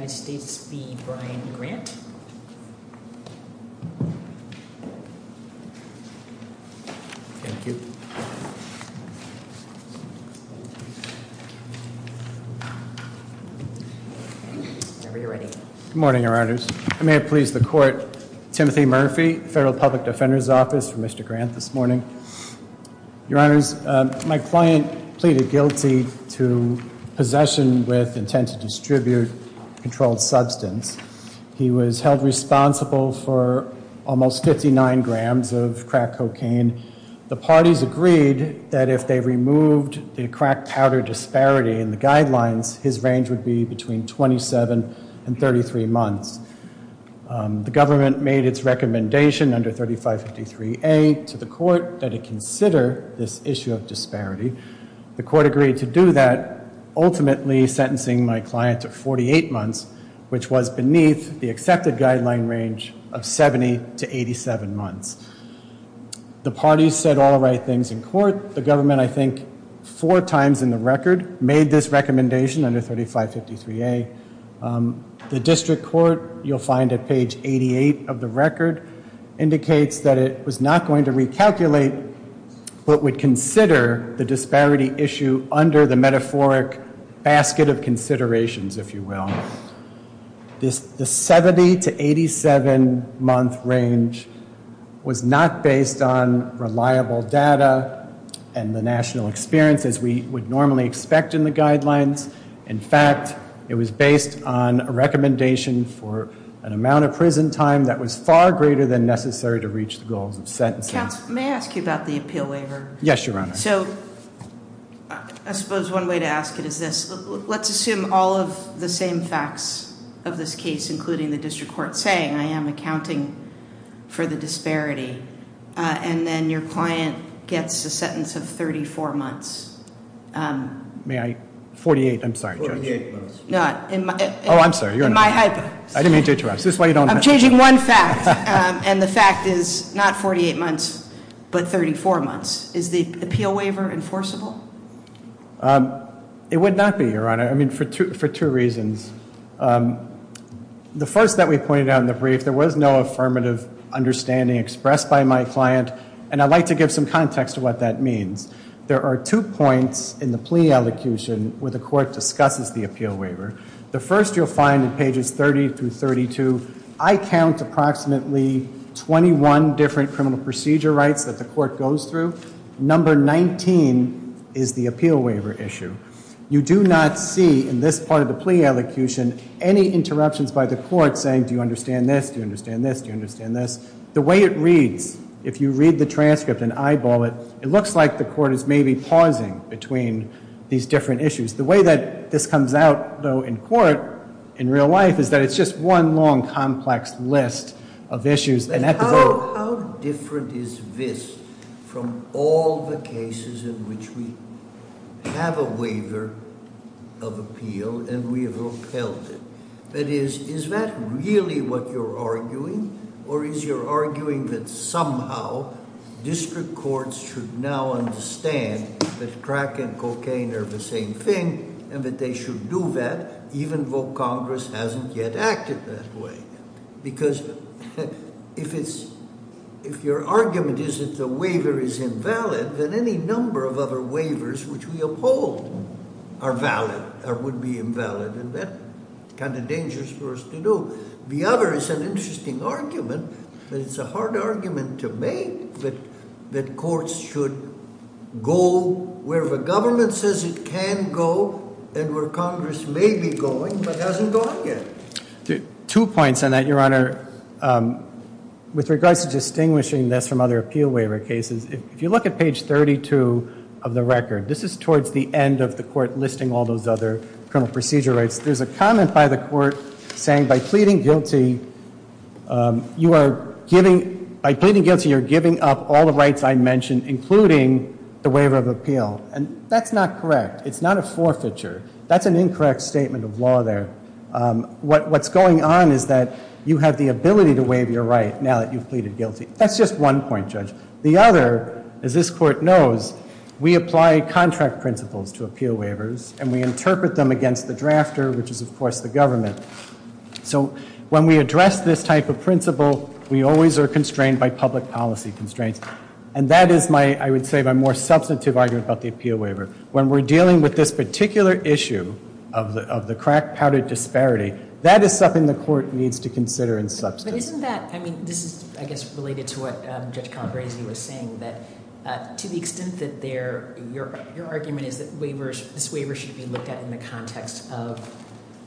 Good morning, your honors. I may have pleased the court, Timothy Murphy, Federal Public Defender's Office for Mr. Grant this morning. Your honors, my client pleaded guilty to possession with intent to distribute controlled substance. He was held responsible for almost 59 grams of crack cocaine. The parties agreed that if they removed the crack powder disparity in the guidelines, his range would be between 27 and 33 months. The government made its recommendation under 3553A to the court that it consider this issue of disparity. The court agreed to do that, ultimately sentencing my client to 48 months, which was beneath the accepted guideline range of 70 to 87 months. The parties said all the right things in court. The government, I think four times in the record, made this recommendation under 3553A. The district court, you'll find at page 88 of the record, indicates that it was not going to recalculate but would consider the disparity issue under the metaphoric basket of considerations, if you will. The 70 to 87 month range was not based on reliable data and the national experience as we would normally expect in the guidelines. In fact, it was based on a recommendation for an amount of prison time that was far greater than necessary to reach the goals of sentencing. Counsel, may I ask you about the appeal waiver? Yes, Your Honor. So, I suppose one way to ask it is this. Let's assume all of the same facts of this case, including the district court, saying I am accounting for the disparity, and then your client gets a sentence of 34 months. May I? 48, I'm sorry, Judge. 48 months. No. Oh, I'm sorry, you're not. In my hypothesis. I didn't mean to interrupt. I'm changing one fact. And the fact is not 48 months, but 34 months. Is the appeal waiver enforceable? It would not be, Your Honor. I mean, for two reasons. The first that we pointed out in the brief, there was no affirmative understanding expressed by my client, and I'd like to give some context to what that means. There are two points in the plea elocution where the court discusses the appeal waiver. The first you'll find in pages 30 through 32, I count approximately 21 different criminal procedure rights that the court goes through. Number 19 is the appeal waiver issue. You do not see, in this part of the plea elocution, any interruptions by the court saying, do you understand this, do you understand this, do you understand this. The way it reads, if you read the transcript and eyeball it, it looks like the court is maybe pausing between these different issues. The way that this comes out, though, in court, in real life, is that it's just one long, complex list of issues. How different is this from all the cases in which we have a waiver of appeal and we have upheld it? That is, is that really what you're arguing, or is your arguing that somehow district courts should now understand that crack and cocaine are the same thing, and that they should do that, even though Congress hasn't yet acted that way? Because if your argument is that the waiver is invalid, then any number of other waivers which we uphold are valid or would be invalid, and that's kind of dangerous for us to do. The other is an interesting argument, but it's a hard argument to make that courts should go where the government says it can go and where Congress may be going but doesn't go up yet. Two points on that, Your Honor. With regards to distinguishing this from other appeal waiver cases, if you look at page 32 of the record, this is towards the end of the court listing all those other criminal procedure rights. There's a comment by the court saying, by pleading guilty, you are giving up all the rights I mentioned, including the waiver of appeal. And that's not correct. It's not a forfeiture. That's an What's going on is that you have the ability to waive your right now that you've pleaded guilty. That's just one point, Judge. The other, as this Court knows, we apply contract principles to appeal waivers, and we interpret them against the drafter, which is, of course, the government. So when we address this type of principle, we always are constrained by public policy constraints. And that is my, I would say, my more substantive argument about the appeal waiver. When we're dealing with this particular issue of the crack powder disparity, that is something the court needs to consider in substance. But isn't that, I mean, this is, I guess, related to what Judge Calabresi was saying, that to the extent that your argument is that this waiver should be looked at in the context of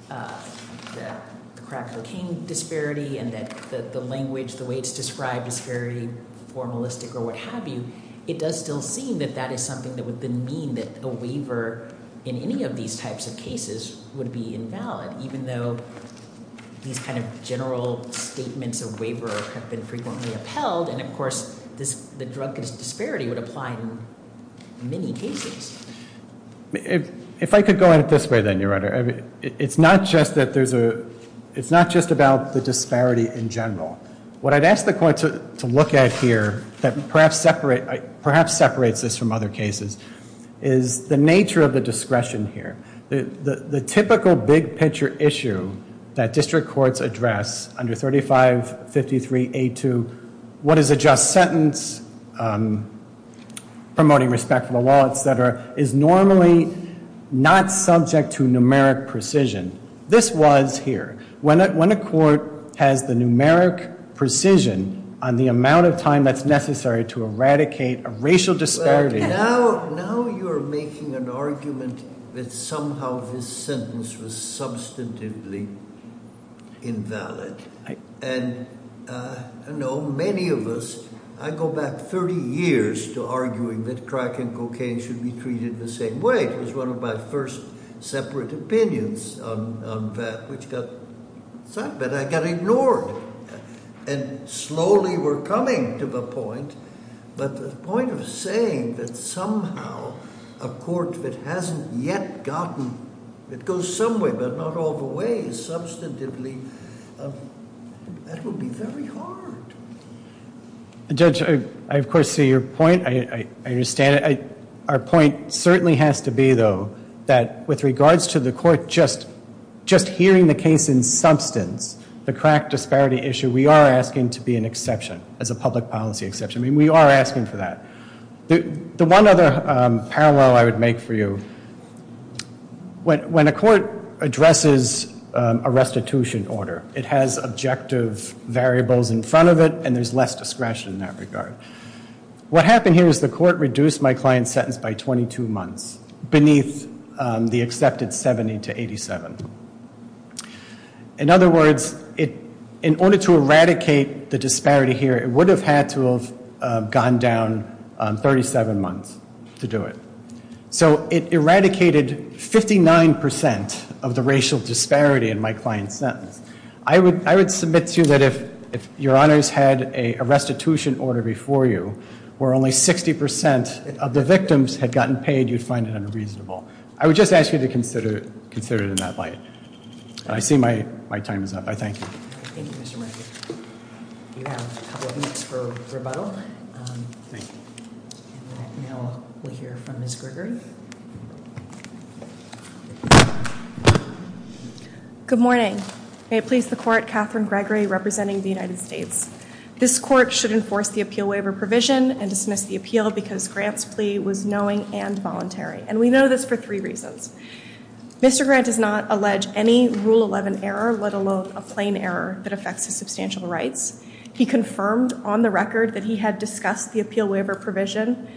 the crack cocaine disparity and that the language, the way it's described, is very formalistic or what have you, it does still seem that that is something that would then mean that a waiver in any of these types of cases would be invalid, even though these kind of general statements of waiver have been frequently upheld. And, of course, the drug disparity would apply in many cases. If I could go at it this way, then, Your Honor, it's not just that there's a, it's not just about the disparity in general. What I'd ask the court to look at here that perhaps separates this from other cases is the nature of the discretion here. The typical big picture issue that district courts address under 3553A2, what is a just sentence, promoting respect for the law, et cetera, is normally not subject to numeric precision. This was necessary to eradicate a racial disparity. Now you're making an argument that somehow this sentence was substantively invalid. And I know many of us, I go back 30 years to arguing that crack and cocaine should be treated the same way. It was one of my first separate opinions on that which got, but I got ignored. And slowly we're coming to the point, but the point of saying that somehow a court that hasn't yet gotten, that goes some way but not all the way substantively, that would be very hard. Judge, I, of course, see your point. I understand it. Our point certainly has to be, though, that with regards to the court just hearing the case in substance, the crack disparity issue, we are asking to be an exception, as a public policy exception. We are asking for that. The one other parallel I would make for you, when a court addresses a restitution order, it has objective variables in front of it and there's less discretion in that regard. What happened here is the court reduced my client's sentence by 22 months beneath the accepted 70 to 87. In other words, in order to eradicate the disparity here, it would have had to have gone down 37 months to do it. So it eradicated 59% of the racial disparity in my client's sentence. I would submit to you that if your honors had a restitution order before you, where only 60% of the victims had gotten paid, you'd find it unreasonable. I would just ask you to consider it in that light. I see my time is up. I thank you. Thank you, Mr. Murphy. You have a couple of minutes for rebuttal. And now we'll hear from Ms. Gregory. Good morning. May it please the court, Catherine Gregory representing the United States. This court should enforce the appeal waiver provision and dismiss the appeal because Grant's plea was knowing and voluntary. And we know this for three reasons. Mr. Grant does not allege any Rule 11 error, let alone a plain error that affects his substantial rights. He confirmed on the record that he had discussed the appeal waiver provision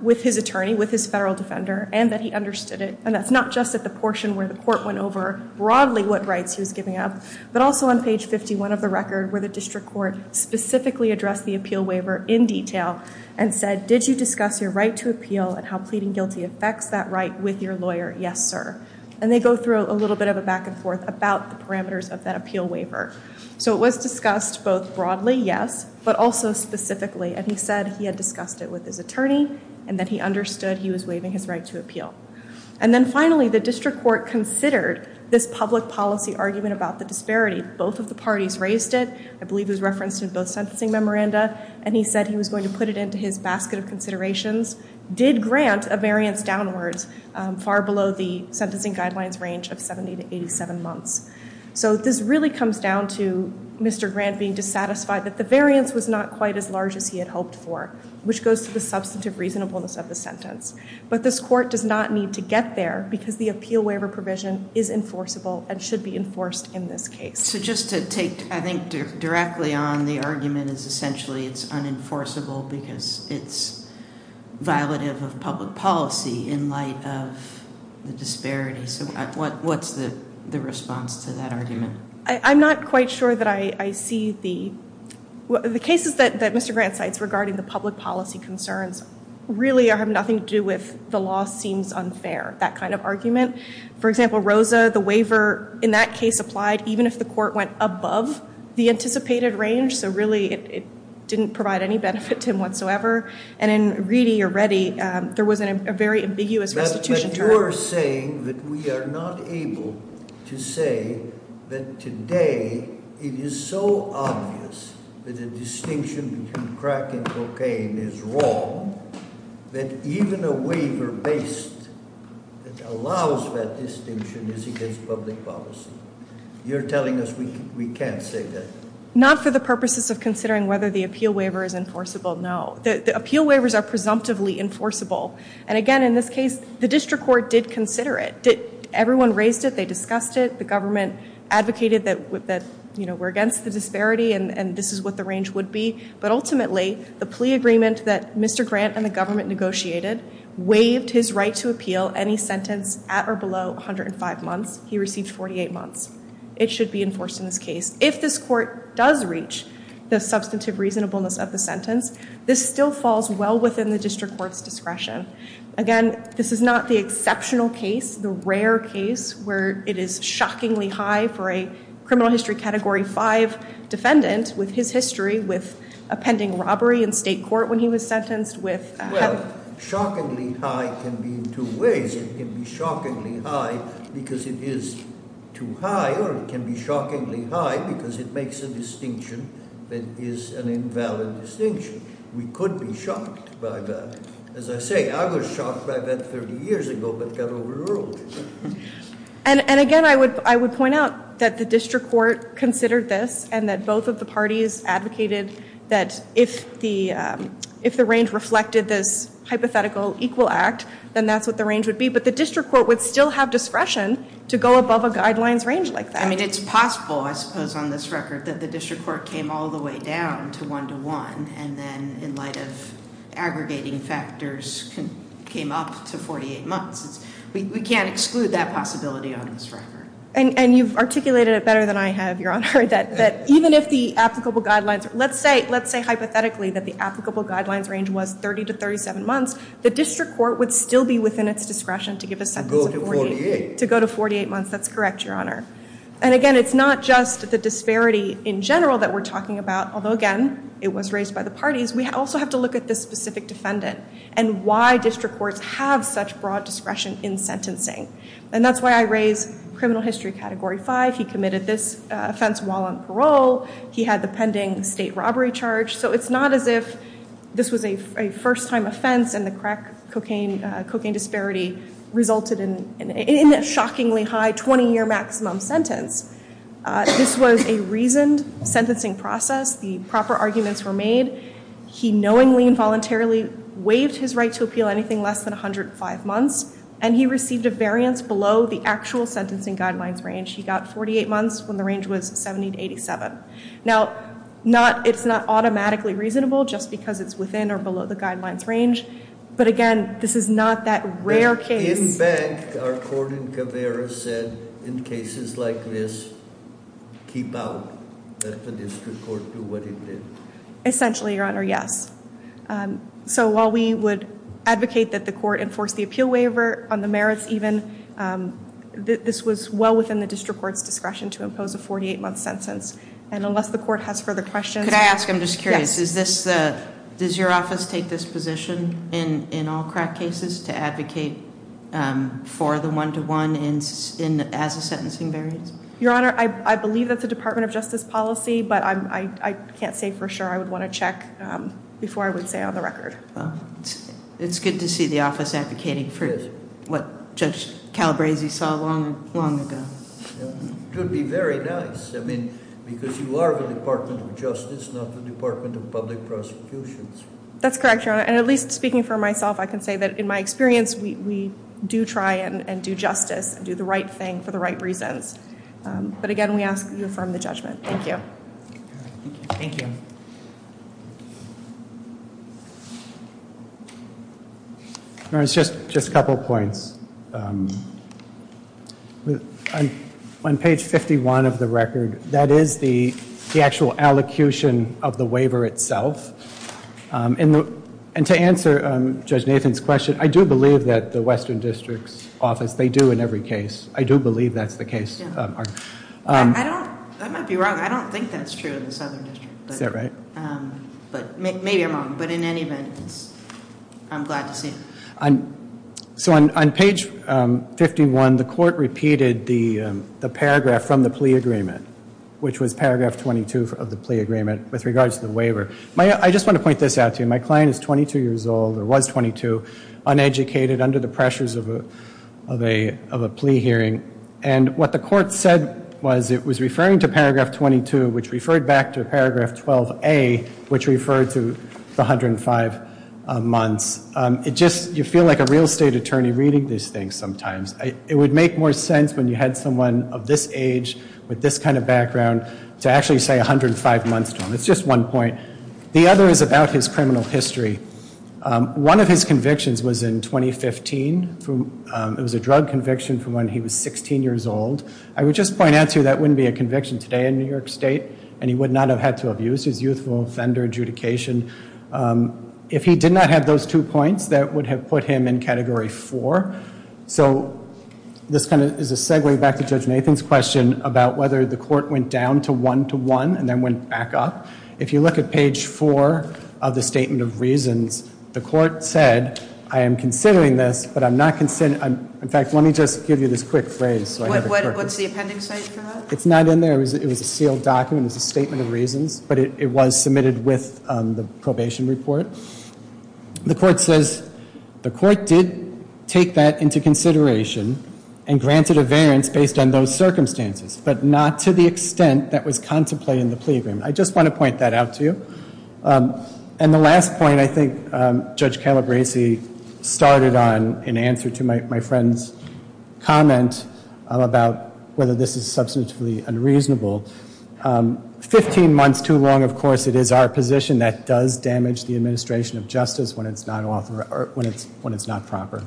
with his attorney, with his federal defender, and that he understood it. And that's not just at the portion where the court went over broadly what rights he was giving up, but also on page 51 of the record where the district court specifically addressed the appeal waiver in detail and said, did you discuss your right to appeal and how pleading guilty affects that right with your lawyer? Yes, sir. And they go through a little bit of a back and forth about the parameters of that appeal waiver. So it was discussed both broadly, yes, but also specifically. And he said he had discussed it with his attorney and that he understood he was waiving his right to appeal. And then finally, the district court considered this public policy argument about the disparity. Both of the parties raised it. I believe it was referenced in both sentencing memoranda. And he said he was going to put it into his basket of considerations, did grant a variance downwards, far below the sentencing guidelines range of 70 to 87 months. So this really comes down to Mr. Grant being dissatisfied that the variance was not quite as large as he had hoped for, which goes to the substantive reasonableness of the sentence. But this court does not need to get there because the appeal waiver provision is enforceable and should be enforced in this case. So just to take, I think, directly on the argument is essentially it's unenforceable because it's violative of public policy in light of the disparity. So what's the response to that argument? I'm not quite sure that I see the cases that Mr. Grant cites regarding the public policy concerns really have nothing to do with the law seems unfair, that kind of argument. For example, Rosa, the waiver in that case applied even if the court went above the anticipated range. So really it didn't provide any benefit to him whatsoever. And in Reedy or Reddy, there was a very ambiguous restitution term. But you're saying that we are not able to say that today it is so obvious that the distinction between crack and cocaine is wrong that even a waiver based that allows that distinction is against public policy? You're telling us we can't say that? Not for the purposes of considering whether the appeal waiver is enforceable, no. The appeal waivers are presumptively enforceable. And again, in this case, the district court did consider it. Everyone raised it. They discussed it. The government advocated that we're against the disparity and this is what the range would be. But ultimately, the plea agreement that Mr. Grant and the government negotiated waived his right to appeal any sentence at or below 105 months. He received 48 months. It should be enforced in this case. If this court does reach the substantive reasonableness of the sentence, this still falls well within the district court's discretion. Again, this is not the exceptional case, the rare case where it is shockingly high for a criminal history category 5 defendant with his history with a pending robbery in state court when he was sentenced with- Well, shockingly high can be in two ways. It can be shockingly high because it is too high or it can be shockingly high because it makes a distinction that is an invalid distinction. We could be shocked by that. As I say, I was shocked by that 30 years ago but got overruled. Again, I would point out that the district court considered this and that both of the parties advocated that if the range reflected this hypothetical equal act, then that's what the range would be. But the district court would still have discretion to go above a guidelines range like that. It's possible, I suppose, on this record that the district court came all the way down to 1 to 1 and then in light of aggregating factors came up to 48 months. We can't exclude that possibility on this record. And you've articulated it better than I have, Your Honor, that even if the applicable guidelines, let's say hypothetically that the applicable guidelines range was 30 to 37 months, the district court would still be within its discretion to give a sentence of 48. To go to 48. To go to 48 months, that's correct, Your Honor. And again, it's not just the disparity in general that we're talking about, although again, it was raised by the parties. We also have to look at this specific defendant and why district courts have such broad discretion in sentencing. And that's why I raised criminal history category 5. He committed this offense while on parole. He had the pending state robbery charge. So it's not as if this was a first-time offense and the crack cocaine disparity resulted in a shockingly high 20-year maximum sentence. This was a reasoned sentencing process. The proper arguments were made. He knowingly and voluntarily waived his right to appeal anything less than 105 months, and he received a variance below the actual sentencing guidelines range. He got 48 months when the range was 70 to 87. Now, it's not automatically reasonable just because it's within or below the guidelines range. But again, this is not that rare case. In fact, our court in Caveira said in cases like this, keep out, let the district court do what it did. Essentially, Your Honor, yes. So while we would advocate that the court enforce the appeal waiver on the merits even, this was well within the district court's discretion to impose a 48-month sentence. And unless the court has further questions- Could I ask, I'm just curious, does your office take this position in all crack cases to advocate for the one-to-one as a sentencing variance? Your Honor, I believe that's a Department of Justice policy, but I can't say for sure. I would want to check before I would say on the record. It's good to see the office advocating for what Judge Calabresi saw long ago. It would be very nice. I mean, because you are the Department of Justice, not the Department of Public Prosecutions. That's correct, Your Honor. And at least speaking for myself, I can say that in my experience, we do try and do justice and do the right thing for the right reasons. But again, we ask that you affirm the judgment. Thank you. Thank you. Your Honor, just a couple points. On page 51 of the record, that is the actual allocution of the waiver itself. And to answer Judge Nathan's question, I do believe that the Western District's office, they do in every case. I do believe that's the case. I might be wrong. I don't think that's true in the Southern District. Is that right? Maybe I'm wrong, but in any event, I'm glad to see it. So on page 51, the court repeated the paragraph from the plea agreement, which was paragraph 22 of the plea agreement with regards to the waiver. I just want to point this out to you. My client is 22 years old or was 22, uneducated, under the pressures of a plea hearing. And what the court said was it was referring to paragraph 22, which referred back to paragraph 12A, which referred to the 105 months. You feel like a real estate attorney reading these things sometimes. It would make more sense when you had someone of this age with this kind of background to actually say 105 months to him. It's just one point. The other is about his criminal history. One of his convictions was in 2015. It was a drug conviction from when he was 16 years old. I would just point out to you that wouldn't be a conviction today in New York State, and he would not have had to have used his youthful offender adjudication. If he did not have those two points, that would have put him in Category 4. So this kind of is a segue back to Judge Nathan's question about whether the court went down to 1 to 1 and then went back up. If you look at page 4 of the Statement of Reasons, the court said, I am considering this, but I'm not considering. In fact, let me just give you this quick phrase. What's the appending site for that? It's not in there. It was a sealed document. It's a Statement of Reasons, but it was submitted with the probation report. The court says, the court did take that into consideration and granted a variance based on those circumstances, but not to the extent that was contemplated in the plea agreement. I just want to point that out to you. And the last point, I think Judge Calabresi started on in answer to my friend's comment about whether this is substantively unreasonable. Fifteen months too long, of course, it is our position that does damage the administration of justice when it's not proper.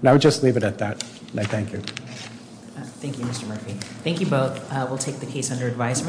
And I would just leave it at that, and I thank you. Thank you, Mr. Murphy. Thank you both. We'll take the case under advisement.